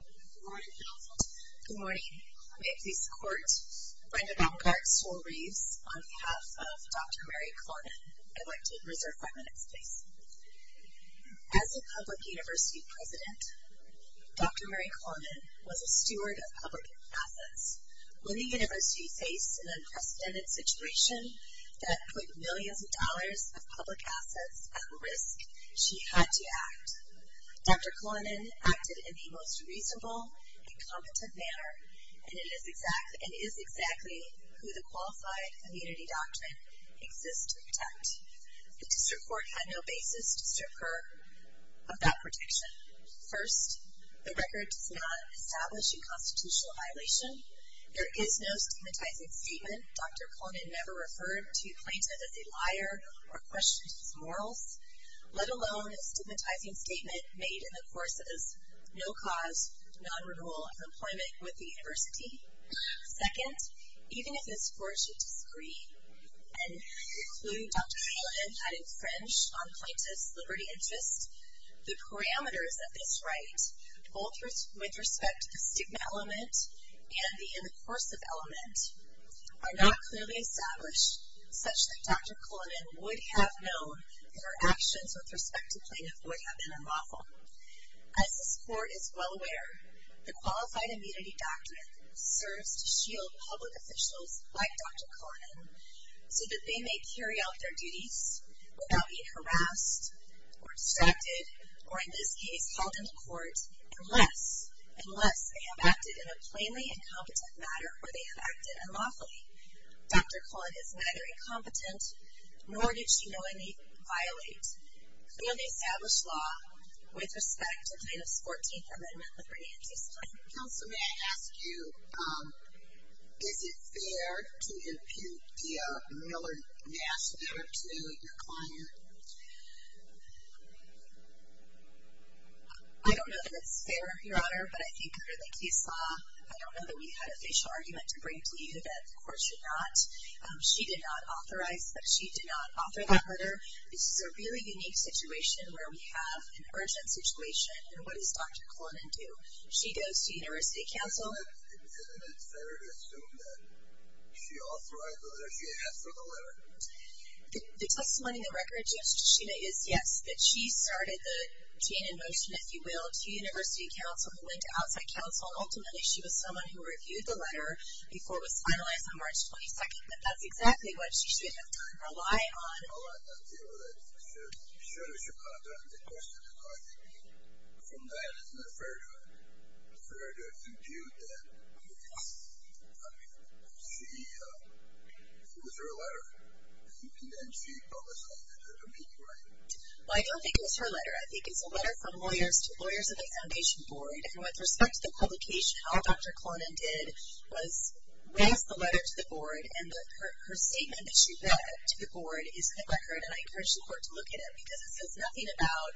Good morning, counsel. Good morning. May it please the court, Brendan Algarve Stoll Reeves, on behalf of Dr. Mary Cullinan, I'd like to reserve five minutes, please. As a public university president, Dr. Mary Cullinan was a steward of public assets. When a university faced an unprecedented situation that put millions of dollars of public assets at risk, she had to act. Dr. Cullinan acted in the most reasonable and competent manner and is exactly who the Qualified Community Doctrine exists to protect. The district court had no basis to strip her of that protection. First, the record does not establish a constitutional violation. There is no stigmatizing statement. Dr. Cullinan never referred to Plaintiff as a liar or questioned his morals, let alone a stigmatizing statement made in the course of his no-cause, non-renewal of employment with the university. Second, even if this court should disagree and conclude Dr. Cullinan had infringed on Plaintiff's liberty and interest, the parameters of this right, both with respect to the stigma element and the in the course of element, are not clearly established, such that Dr. Cullinan would have known that her actions with respect to Plaintiff would have been unlawful. As this court is well aware, the Qualified Immunity Doctrine serves to shield public officials like Dr. Cullinan so that they may carry out their duties without being harassed or distracted or, in this case, held in the court, unless they have acted in a plainly incompetent manner or they have acted unlawfully. Dr. Cullinan is neither incompetent nor did she know any violate clearly established law with respect to Plaintiff's 14th Amendment, Liberty and Justice. Counsel, may I ask you, is it fair to impute the Miller-Nass letter to your client? I don't know that it's fair, Your Honor, but I think clearly case law. I don't know that we had a facial argument to bring to you that the court should not. She did not authorize, but she did not author the letter. This is a really unique situation where we have an urgent situation. And what does Dr. Cullinan do? She goes to University Council. Is it fair to assume that she authorized the letter? She asked for the letter? The testimony in the record, Judge Kishina, is yes, that she started the chain of motion, if you will, to University Council. She went to outside counsel, and ultimately she was someone who reviewed the letter before it was finalized on March 22nd, and that's exactly what she shouldn't have done or lied on. All right, that's it. You showed us your content. The question is, I think, from that, is it fair to impute that? Yes. Was there a letter? And then she publicized it at a meeting, right? Well, I don't think it was her letter. I think it's a letter from lawyers to lawyers of the foundation board, and with respect to the publication, all Dr. Cullinan did was raise the letter to the board, and her statement that she read to the board is in the record, and I encourage the court to look at it because it says nothing about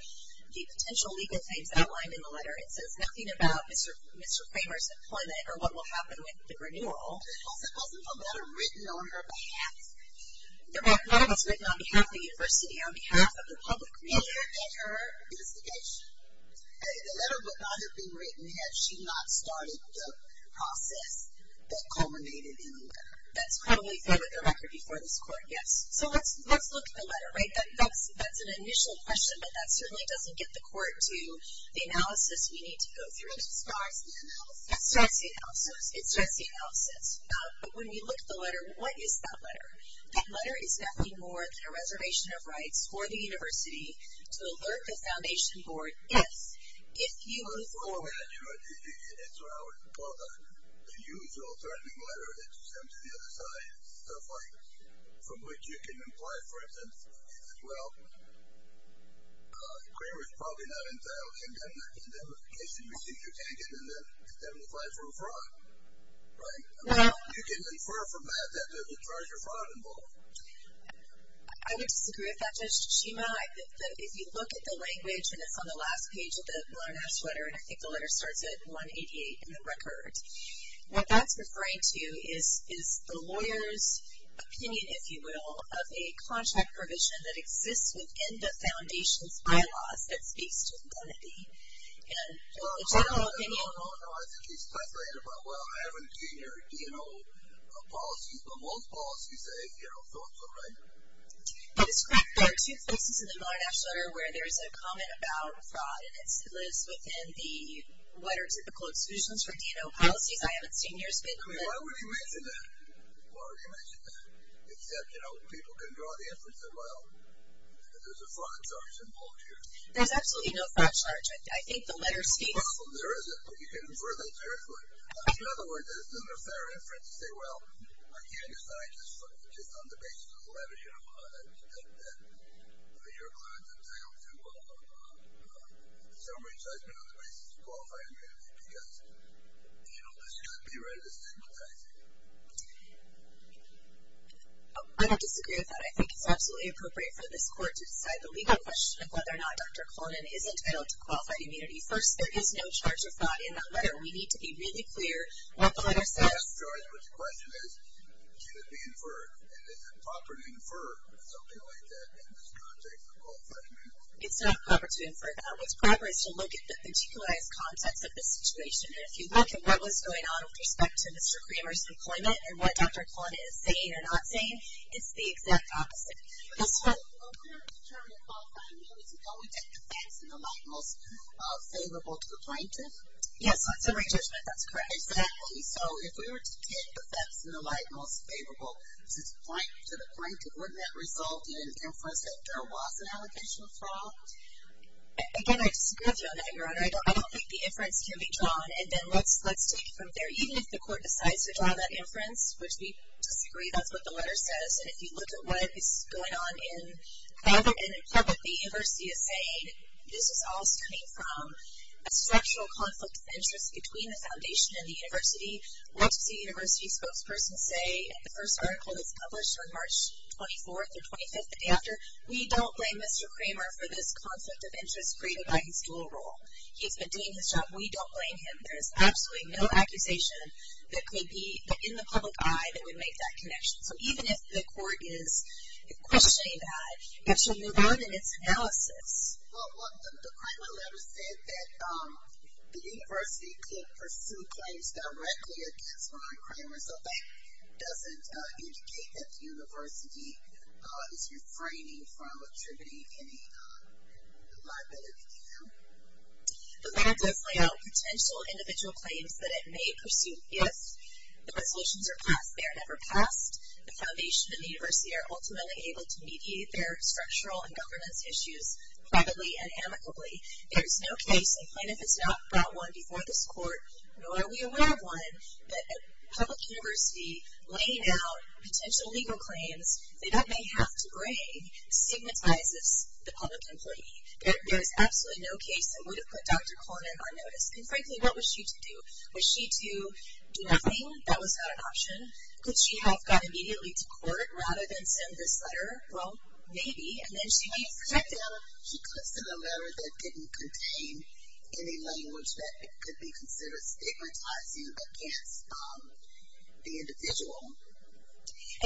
the potential legal things outlined in the letter. It says nothing about Mr. Kramer's employment or what will happen with the renewal. But wasn't the letter written on her behalf? No, the letter was written on behalf of the university, on behalf of the public. And her investigation. The letter would not have been written had she not started the process that culminated in the letter. That's probably fair with the record before this court, yes. So let's look at the letter, right? That's an initial question, but that certainly doesn't get the court to the analysis we need to go through. It's as far as the analysis? It's just the analysis. It's just the analysis. But when you look at the letter, what is that letter? That letter is nothing more than a reservation of rights for the university to alert the foundation board if you move forward. Well, the usual threatening letter that you send to the other side, stuff like from which you can imply, for instance, that, well, Kramer is probably not entitled, in that case, you receive your tankent and then you're condemned to file for a fraud. Right? You can infer from that that there's a charge of fraud involved. I would disagree with that, Judge Tachima. If you look at the language, and it's on the last page of the learner's letter, and I think the letter starts at 188 in the record, what that's referring to is the lawyer's opinion, if you will, of a contract provision that exists within the foundation's bylaws that speaks to the entity. And the general opinion. No, no, no. I think he's translating it. Well, I haven't seen your D&O policies, but most policies are, you know, so-and-so, right? That is correct. There are two places in the Learner's Letter where there is a comment about fraud, and it lives within the what are typical exclusions for D&O policies. I haven't seen yours, but. I mean, why would he mention that? Why would he mention that? Except, you know, people can draw the inference that, well, there's a fraud charge involved here. There's absolutely no fraud charge. I think the letter states. There isn't. You can infer that directly. In other words, there isn't a fair inference to say, well, I can't decide just on the basis of the letter, you know, that your client's entitled to summary judgment on the basis of qualified immunity because, you know, this could be read as sympathizing. I don't disagree with that. I think it's absolutely appropriate for this court to decide the legal question of whether or not Dr. Cullinan is entitled to qualified immunity. First, there is no charge of fraud in that letter. We need to be really clear what the letter says. The question is, can it be inferred? And is it proper to infer something like that in this context of qualified immunity? It's not proper to infer that. What's proper is to look at the particularized context of the situation. And if you look at what was going on with respect to Mr. Kramer's employment and what Dr. Cullinan is saying or not saying, it's the exact opposite. Yes, ma'am. When we're determining qualified immunity, don't we get the facts in the light most favorable to the plaintiff? Yes, on summary judgment. That's correct. Exactly. So if we were to take the facts in the light most favorable to the plaintiff, wouldn't that result in inference that there was an allocation of fraud? Again, I disagree with you on that, Your Honor. I don't think the inference can be drawn. And then let's take it from there. Even if the court decides to draw that inference, which we disagree, that's what the letter says. And if you look at what is going on in private and in public, the university is saying this is all stemming from a structural conflict of interest between the foundation and the university. What does the university spokesperson say in the first article that's published on March 24th or 25th the day after? We don't blame Mr. Kramer for this conflict of interest created by his dual role. He's been doing his job. We don't blame him. There's absolutely no accusation that could be in the public eye that would make that connection. So even if the court is questioning that, it should move on in its analysis. Well, the Kramer letter said that the university could pursue claims directly against Ron Kramer. So that doesn't indicate that the university is refraining from attributing any liability to him. But that does lay out potential individual claims that it may pursue if the resolutions are passed. They are never passed. The foundation and the university are ultimately able to mediate their structural and governance issues privately and amicably. There is no case, even if it's not brought one before this court, nor are we aware of one, that a public university laying out potential legal claims that it may have to bring stigmatizes the public employee. There is absolutely no case that would have put Dr. Kramer on notice. And frankly, what was she to do? Was she to do nothing? That was not an option. Could she have gone immediately to court rather than send this letter? Well, maybe. And then she may have protected him. She could have sent a letter that didn't contain any language that could be considered stigmatizing against the individual.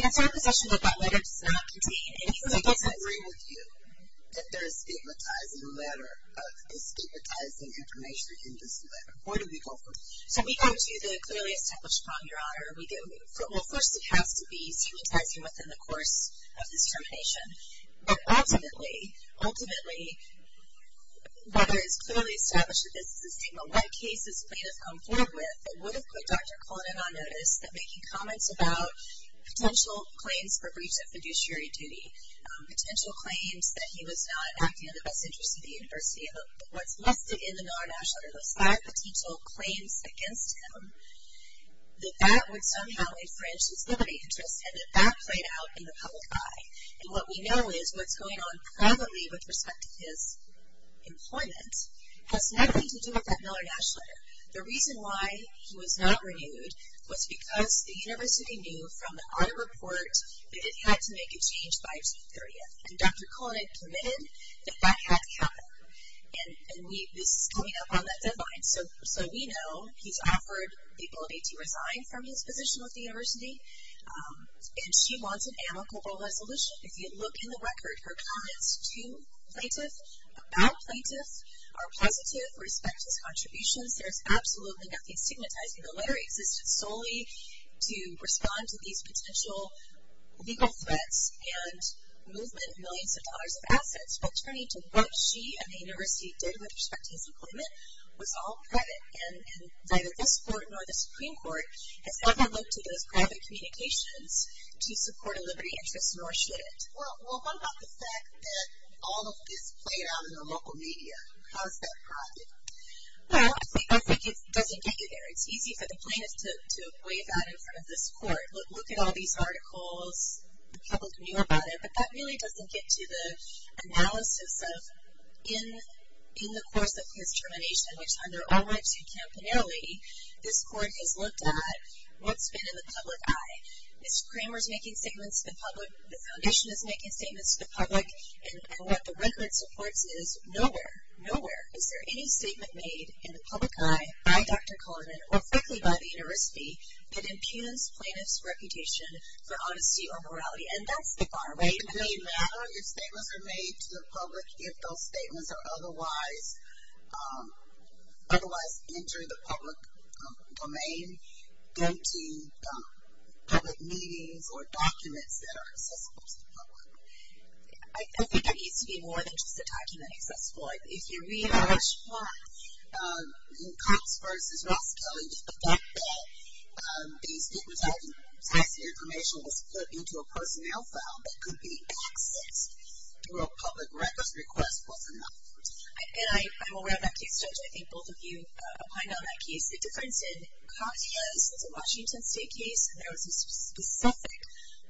And it's our position that that letter does not contain any language. So I disagree with you that there is stigmatizing information in this letter. Where do we go from here? So we go to the clearly established point, Your Honor. Well, first it has to be stigmatizing within the course of this termination. But ultimately, ultimately, whether it's clearly established that this is a stigma, what cases may have come forward with that would have put Dr. Cullinan on notice that making comments about potential claims for breach of fiduciary duty, potential claims that he was not acting in the best interest of the university, what's listed in the NARA National Register, five potential claims against him, that that would somehow infringe his liberty interest and that that played out in the public eye. And what we know is what's going on privately with respect to his employment has nothing to do with that Miller-Nash letter. The reason why he was not renewed was because the university knew from the audit report that it had to make a change by June 30th. And Dr. Cullinan committed that that had to happen. And this is coming up on that deadline. So we know he's offered the ability to resign from his position with the university. And she wants an amicable resolution. If you look in the record, her comments to plaintiffs, about plaintiffs, are positive with respect to his contributions. There's absolutely nothing stigmatizing the letter. It existed solely to respond to these potential legal threats and movement of millions of dollars of assets. But turning to what she and the university did with respect to his employment was all private, and neither this court nor the Supreme Court has ever looked at those private communications to support a liberty interest, nor should it. Well, what about the fact that all of this played out in the local media? How is that private? Well, I think it doesn't get you there. It's easy for the plaintiffs to weigh that in front of this court. Look at all these articles. The public knew about it. But that really doesn't get to the analysis of in the course of his termination, which on their own right to campaignarily, this court has looked at what's been in the public eye. If Kramer's making statements to the public, the foundation is making statements to the public, and what the record supports is nowhere, nowhere is there any statement made in the public eye by Dr. Coleman or frankly by the university that impugns plaintiffs' reputation for honesty or morality. And that's the bar, right? It may matter if statements are made to the public, if those statements are otherwise entering the public domain, going to public meetings or documents that are accessible to the public. I think it needs to be more than just a document accessible. If you read the first part, in Cox v. Ross Kelly, the fact that these different types of information was put into a personnel file that could be accessed through a public records request was enough. And I'm aware of that case, Judge. I think both of you opined on that case. The difference in Cox is it's a Washington State case, and there was a specific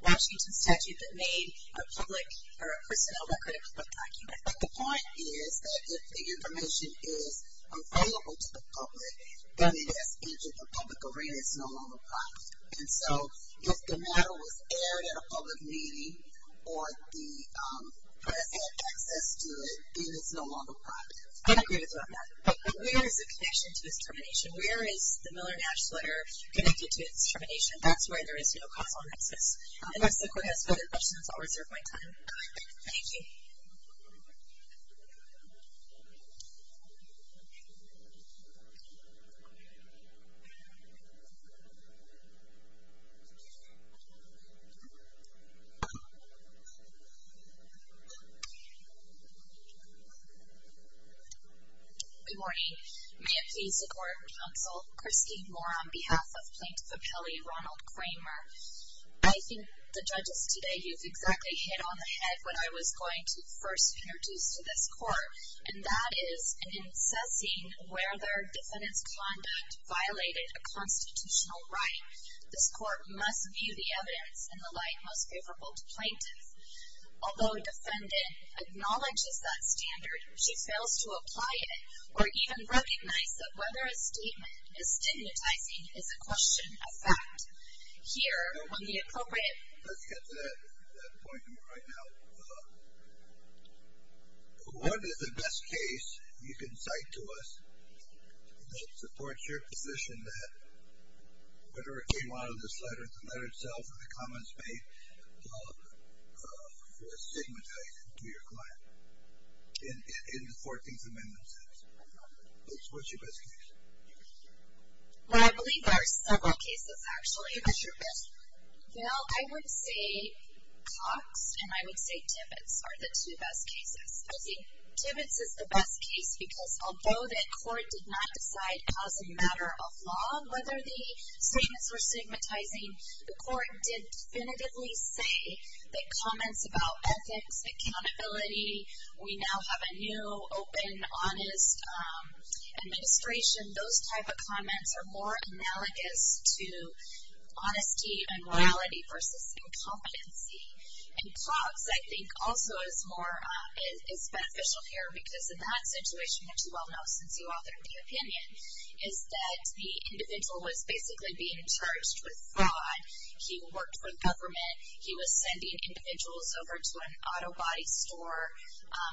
Washington statute that made a public or a personnel record a public document. But the point is that if the information is available to the public, then it has entered the public arena. It's no longer private. And so if the matter was aired at a public meeting or the press had access to it, then it's no longer private. I agree with that, Matt. But where is the connection to discrimination? Where is the Miller-Nash letter connected to discrimination? That's where there is no causal nexus. Unless the court has further questions, I'll reserve my time. Thank you. Good morning. May it please the Court and Counsel, Christy Moore on behalf of Plaintiff Appellee Ronald Kramer. I think the judges today, you've exactly hit on the head what I was going to first introduce to this court, and that is an incessant where their defendant's conduct violated a constitutional right. This court must view the evidence in the light most favorable to plaintiffs. Although a defendant acknowledges that standard, she fails to apply it or even recognize that whether a statement is stigmatizing is a question of fact. Let's get to that point right now. What is the best case you can cite to us that supports your position that whatever came out of this letter, the letter itself and the comments made, was stigmatized to your client in the 14th Amendment sense? What's your best case? Well, I believe there are several cases, actually. What's your best? Well, I would say Cox and I would say Tibbetts are the two best cases. I think Tibbetts is the best case because although the court did not decide as a matter of law whether the statements were stigmatizing, the court did definitively say that comments about ethics, accountability, we now have a new, open, honest administration. Those type of comments are more analogous to honesty and morality versus incompetency. And Cox, I think, also is more beneficial here because in that situation, which you all know since you authored the opinion, is that the individual was basically being charged with fraud. He worked for the government. He was sending individuals over to an auto body store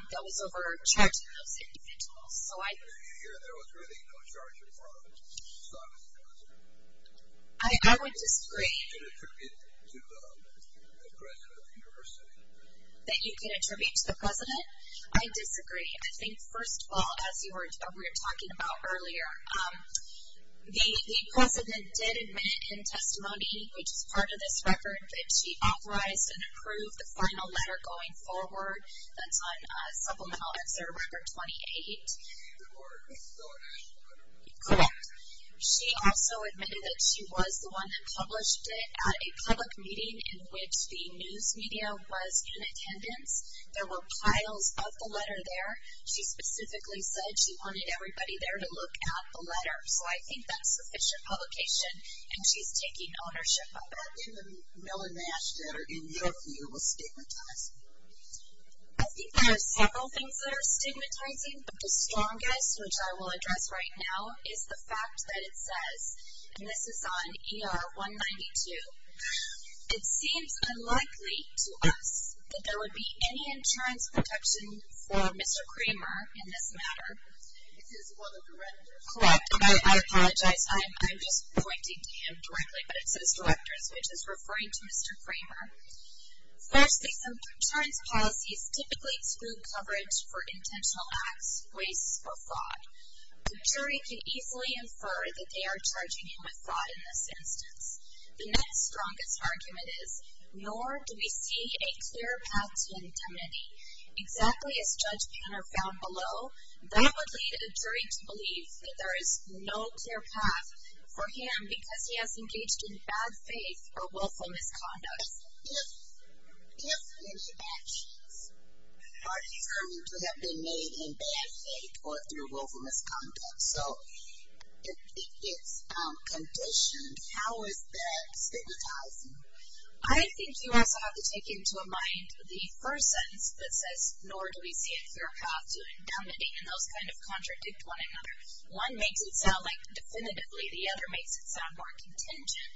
that was overcharging those individuals. Do you hear there was really no charge of fraud? I would disagree. That you can attribute to the president of the university? That you can attribute to the president? I disagree. I think, first of all, as we were talking about earlier, the president did admit in testimony, which is part of this record, that she authorized and approved the final letter going forward. That's on supplemental excerpt record 28. Correct. She also admitted that she was the one that published it at a public meeting in which the news media was in attendance. There were piles of the letter there. She specifically said she wanted everybody there to look at the letter. So I think that's sufficient publication, and she's taking ownership of it. In the Miller-Mash letter, in your view, was stigmatized? I think there are several things that are stigmatizing, but the strongest, which I will address right now, is the fact that it says, and this is on ER 192, it seems unlikely to us that there would be any insurance protection for Mr. Kramer in this matter. This is one of the records. Correct. I apologize. I'm just pointing to him directly, but it says directors, which is referring to Mr. Kramer. Firstly, some insurance policies typically exclude coverage for intentional acts, waste, or fraud. The jury can easily infer that they are charging him with fraud in this instance. The next strongest argument is, nor do we see a clear path to indemnity. Exactly as Judge Panner found below, that would lead a jury to believe that there is no clear path for him because he has engaged in bad faith or willful misconduct. If any actions are determined to have been made in bad faith or through willful misconduct, so it's conditioned, how is that stigmatizing? I think you also have to take into mind the first sentence that says, nor do we see a clear path to indemnity, and those kind of contradict one another. One makes it sound like definitively, the other makes it sound more contingent,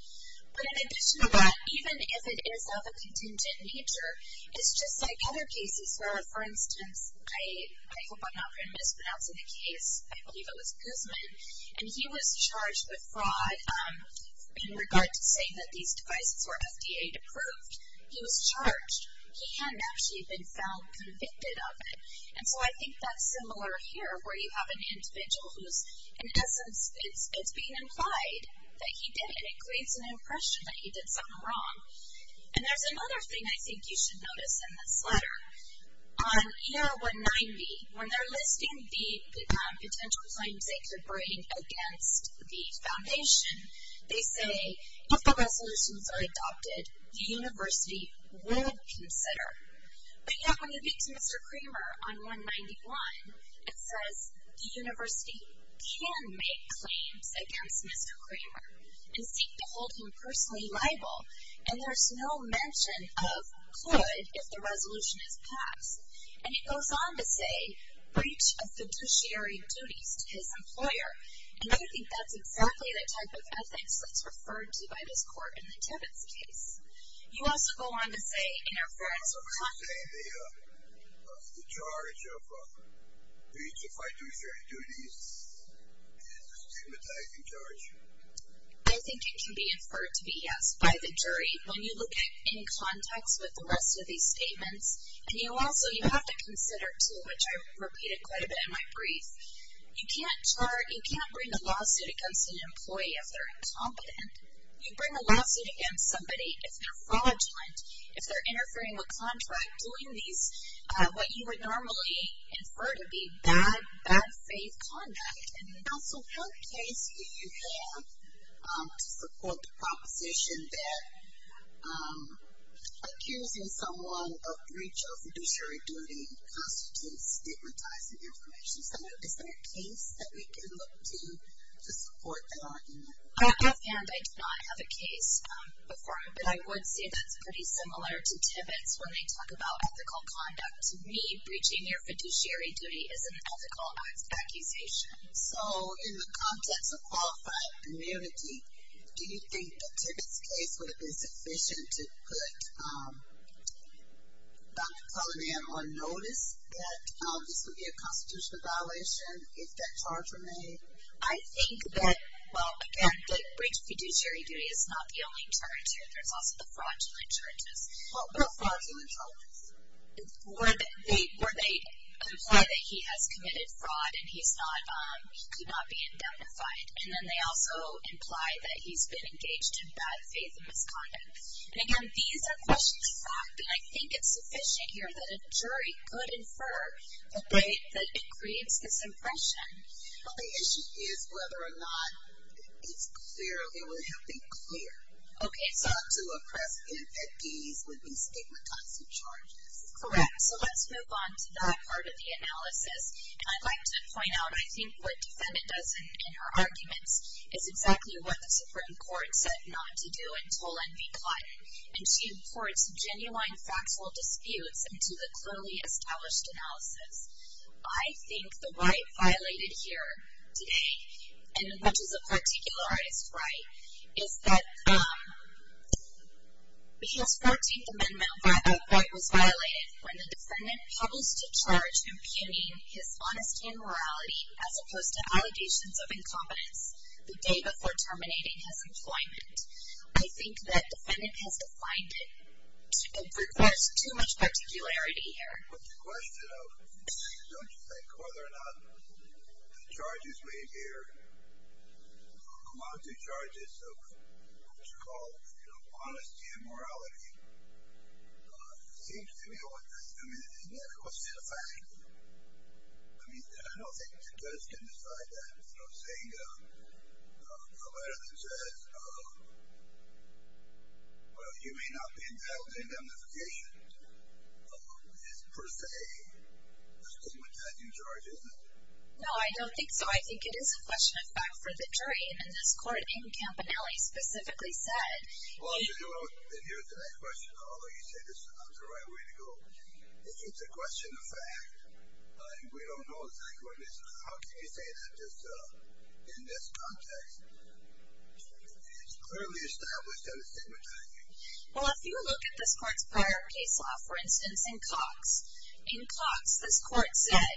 but in addition to that, even if it is of a contingent nature, it's just like other cases where, for instance, I hope I'm not mispronouncing the case, I believe it was Guzman, and he was charged with fraud in regard to saying that these devices were FDA approved. He was charged. He hadn't actually been found convicted of it, and so I think that's similar here where you have an individual who's, in essence, it's being implied that he did it. It creates an impression that he did something wrong. And there's another thing I think you should notice in this letter. On ER-190, when they're listing the potential claims they could bring against the foundation, they say, if the resolutions are adopted, the university would consider. But yet, when you get to Mr. Kramer on 191, it says, the university can make claims against Mr. Kramer and seek to hold him personally liable, and there's no mention of could if the resolution is passed. And it goes on to say, breach of fiduciary duties to his employer, and I think that's exactly the type of ethics that's referred to by this court in the Tibbetts case. You also go on to say, interference or conflict. You're saying the charge of breach of fiduciary duties is a stigmatizing charge? I think it can be inferred to be yes by the jury. When you look at in context with the rest of these statements, and you also have to consider, too, which I repeated quite a bit in my brief, you can't bring a lawsuit against an employee if they're incompetent. You bring a lawsuit against somebody if they're fraudulent, if they're interfering with contract, doing these, what you would normally infer to be bad, bad faith conduct. And also, what case do you have to support the proposition that accusing someone of breach of fiduciary duty constitutes stigmatizing information? Is there a case that we can look to to support that argument? I have found I do not have a case before him, but I would say that's pretty similar to Tibbetts when they talk about ethical conduct. To me, breaching your fiduciary duty is an ethical accusation. So in the context of qualified immunity, do you think that Tibbetts' case would have been sufficient to put Dr. Cullinan on notice that this would be a constitutional violation if that charge were made? I think that, well, again, the breach of fiduciary duty is not the only charge here. There's also the fraudulent charges. What fraudulent charges? Where they imply that he has committed fraud and he's not being identified. And then they also imply that he's been engaged in bad faith and misconduct. And, again, these are questions of fact, and I think it's sufficient here that a jury could infer that it creates this impression. Well, the issue is whether or not it's clear or it would have been clear. Okay. So to oppress infantes would be stigmatizing charges. Correct. So let's move on to that part of the analysis. And I'd like to point out I think what the defendant does in her arguments is exactly what the Supreme Court said not to do in Toll and Begotten. And she imports genuine factual disputes into the clearly established analysis. I think the right violated here today, and which is a particularized right, is that he has 14th Amendment of what was violated when the defendant published a charge impugning his honesty and morality as opposed to allegations of incompetence the day before terminating his employment. I think that defendant has defined it. There's too much particularity here. What's the question of, don't you think, whether or not the charges we hear amount to charges of what's called honesty and morality? It seems to me that what's the effect? I mean, I don't think the judge can decide that. So saying a letter that says, well, you may not be entitled to indemnification is per se a stigmatizing charge, isn't it? No, I don't think so. I think it is a question of fact for the jury, and this court in Campanelli specifically said. Well, here's the next question, although you say this is not the right way to go. If it's a question of fact, and we don't know exactly what it is, how can you say that just in this context? It's clearly established that it's stigmatizing. Well, if you look at this court's prior case law, for instance, in Cox, in Cox this court said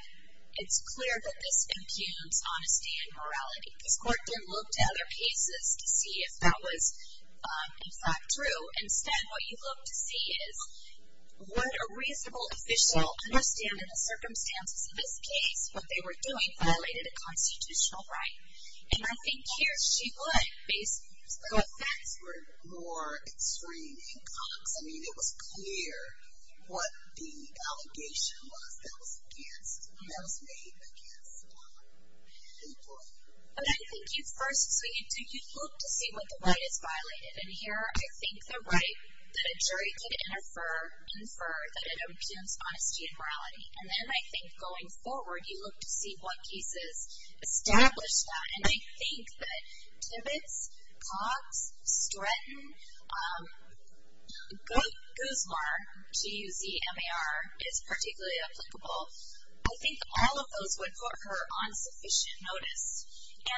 it's clear that this impugns honesty and morality. This court didn't look to other cases to see if that was, in fact, true. Instead, what you look to see is what a reasonable official understand in the circumstances of this case, what they were doing violated a constitutional right. And I think here she would. The facts were more extreme in Cox. I mean, it was clear what the allegation was that was made against the court. But I think you first look to see what the right is violated, and here I think the right that a jury could infer that it impugns honesty and morality, and then I think going forward you look to see what cases establish that. And I think that Tibbetts, Cox, Stratton, Guzmar, G-U-Z-M-A-R, is particularly applicable. I think all of those would put her on sufficient notice.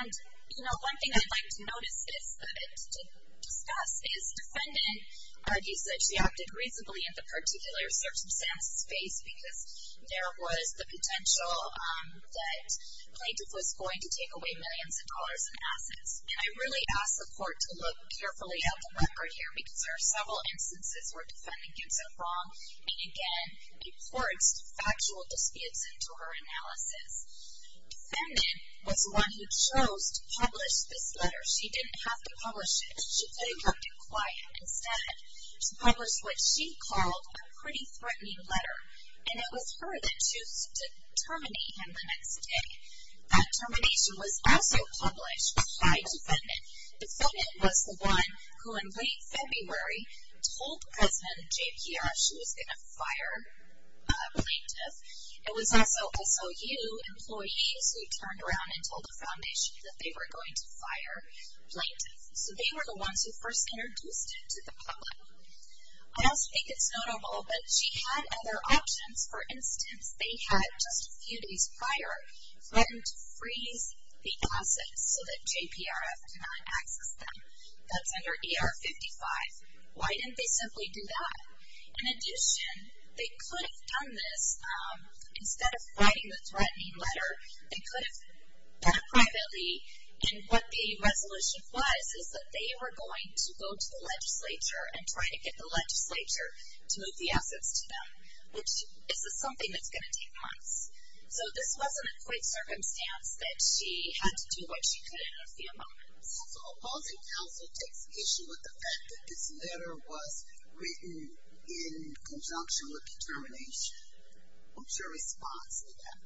And, you know, one thing I'd like to notice is that to discuss is defendant argues that she acted reasonably in the particular circumstance space because there was the potential that plaintiff was going to take away millions of dollars in assets. And I really ask the court to look carefully at the record here because there are several instances where defendant gets it wrong and, again, reports factual disputes into her analysis. Defendant was the one who chose to publish this letter. She didn't have to publish it. She could have kept it quiet. Instead, she published what she called a pretty threatening letter, and it was her that chose to terminate him the next day. That termination was also published by defendant. Defendant was the one who in late February told President JPR she was going to fire a plaintiff. It was also SOU employees who turned around and told the foundation that they were going to fire a plaintiff. So they were the ones who first introduced it to the public. I also think it's notable that she had other options. For instance, they had just a few days prior threatened to freeze the assets so that JPRF could not access them. That's under ER 55. Why didn't they simply do that? In addition, they could have done this. Instead of writing the threatening letter, they could have done it privately. And what the resolution was is that they were going to go to the legislature and try to get the legislature to move the assets to them, which is something that's going to take months. So this wasn't a quick circumstance that she had to do what she could in a few moments. So opposing counsel takes issue with the fact that this letter was written in conjunction with the termination. What's your response to that?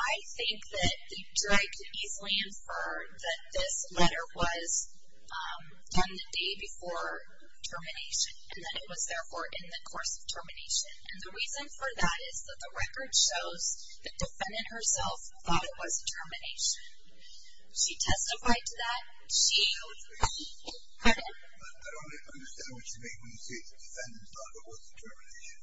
I think that the jury could easily infer that this letter was done the day before termination and that it was, therefore, in the course of termination. And the reason for that is that the record shows the defendant herself thought it was a termination. She testified to that. I don't understand what you mean when you say the defendant thought it was a termination.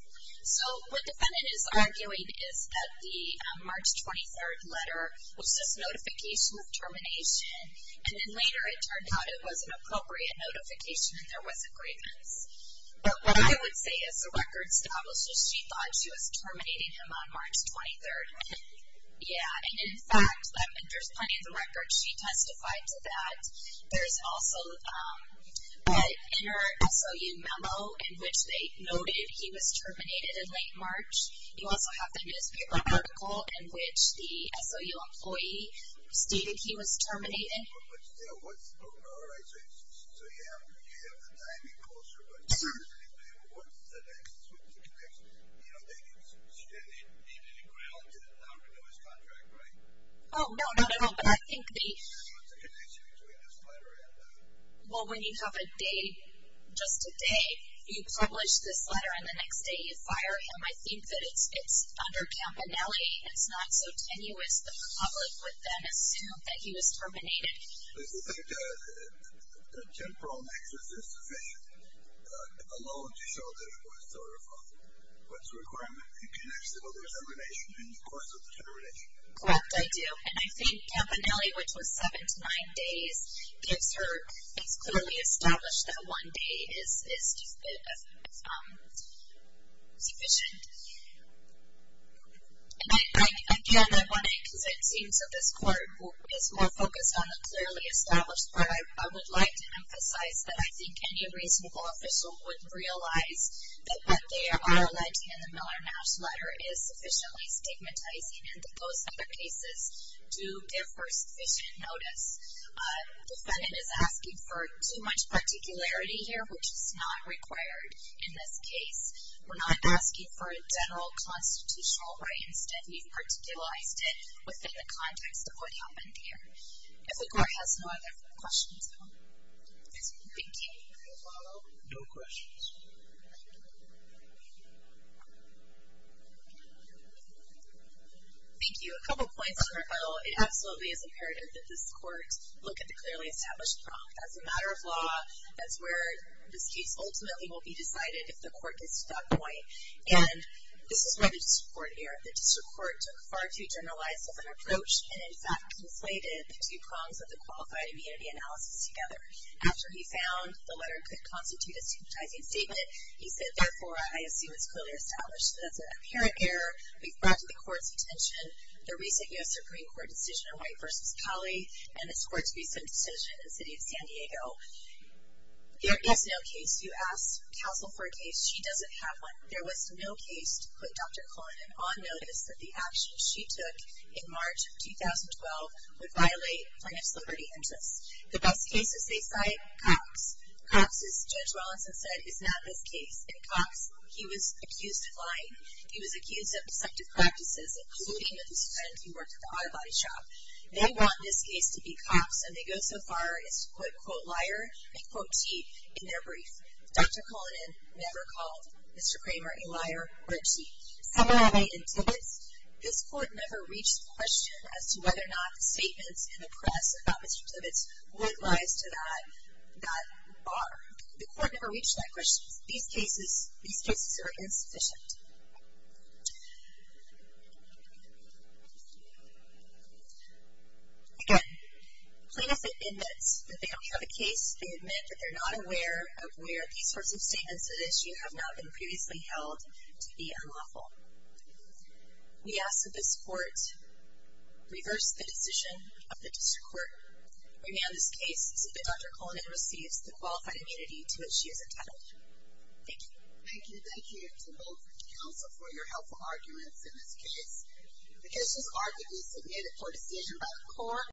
So what the defendant is arguing is that the March 23rd letter was just notification of termination, and then later it turned out it was an appropriate notification and there was a grievance. But what I would say is the record establishes she thought she was terminating him on March 23rd. Yeah, and, in fact, there's plenty of the records she testified to that. There's also an inner SOU memo in which they noted he was terminated in late March. You also have the newspaper article in which the SOU employee stated he was terminated. But still, what's the organization? So you have the timing, culture, but certainly what's the connection? You know, they didn't stand in any ground to allow him to do his contract, right? Oh, no, no, no. What's the connection between this letter and that one? Well, when you have a day, just a day, you publish this letter, and the next day you fire him, I think that it's under Campanelli. It's not so tenuous the public would then assume that he was terminated. Does the fact that the temporal nexus is sufficient alone to show that it was sort of what's the requirement? You can't say, well, there's a relation in the course of the termination. Correct, I do. And I think Campanelli, which was seven to nine days, gives her it's clearly established that one day is sufficient. And, again, I want to, because it seems that this court is more focused on the clearly established, but I would like to emphasize that I think any reasonable official would realize that what they are alleging in the Miller-Nash letter is sufficiently stigmatizing, and that those other cases do give her sufficient notice. The defendant is asking for too much particularity here, which is not required in this case. We're not asking for a general constitutional right. Instead, we've particularized it within the context of what happened here. If the court has no other questions, I'm thinking we can follow. So, no questions. Thank you. A couple points. It absolutely is imperative that this court look at the clearly established prong. That's a matter of law. That's where this case ultimately will be decided if the court gets to that point. And this is where the district court erred. The district court took far too generalized of an approach and, in fact, conflated the two prongs of the qualified immunity analysis together. After he found the letter could constitute a stigmatizing statement, he said, therefore, I assume it's clearly established that it's an apparent error. We've brought to the court's attention the recent U.S. Supreme Court decision on White v. Cali and this court's recent decision in the city of San Diego. There is no case. You ask counsel for a case. She doesn't have one. There was no case to put Dr. Cullinan on notice that the actions she took in March of 2012 would violate plaintiff's liberty interests. The best cases they cite, cops. Cops, as Judge Wellenson said, is not this case. And cops, he was accused of lying. He was accused of deceptive practices, including with his friends who worked at the auto body shop. They want this case to be cops, and they go so far as to quote liar and quote T in their brief. Dr. Cullinan never called Mr. Kramer a liar or a T. Similarly, in Tibbetts, this court never reached a question as to whether or not the statements in the press about Mr. Tibbetts, what lies to that bar. The court never reached that question. These cases are insufficient. Again, plaintiffs admit that they don't have a case. They admit that they're not aware of where these sorts of statements at issue have not been previously held to be unlawful. We ask that this court reverse the decision of the district court. Remand this case so that Dr. Cullinan receives the qualified immunity to which she is entitled. Thank you. Thank you. Thank you to both counsel for your helpful arguments in this case. The cases are to be submitted for decision by the court.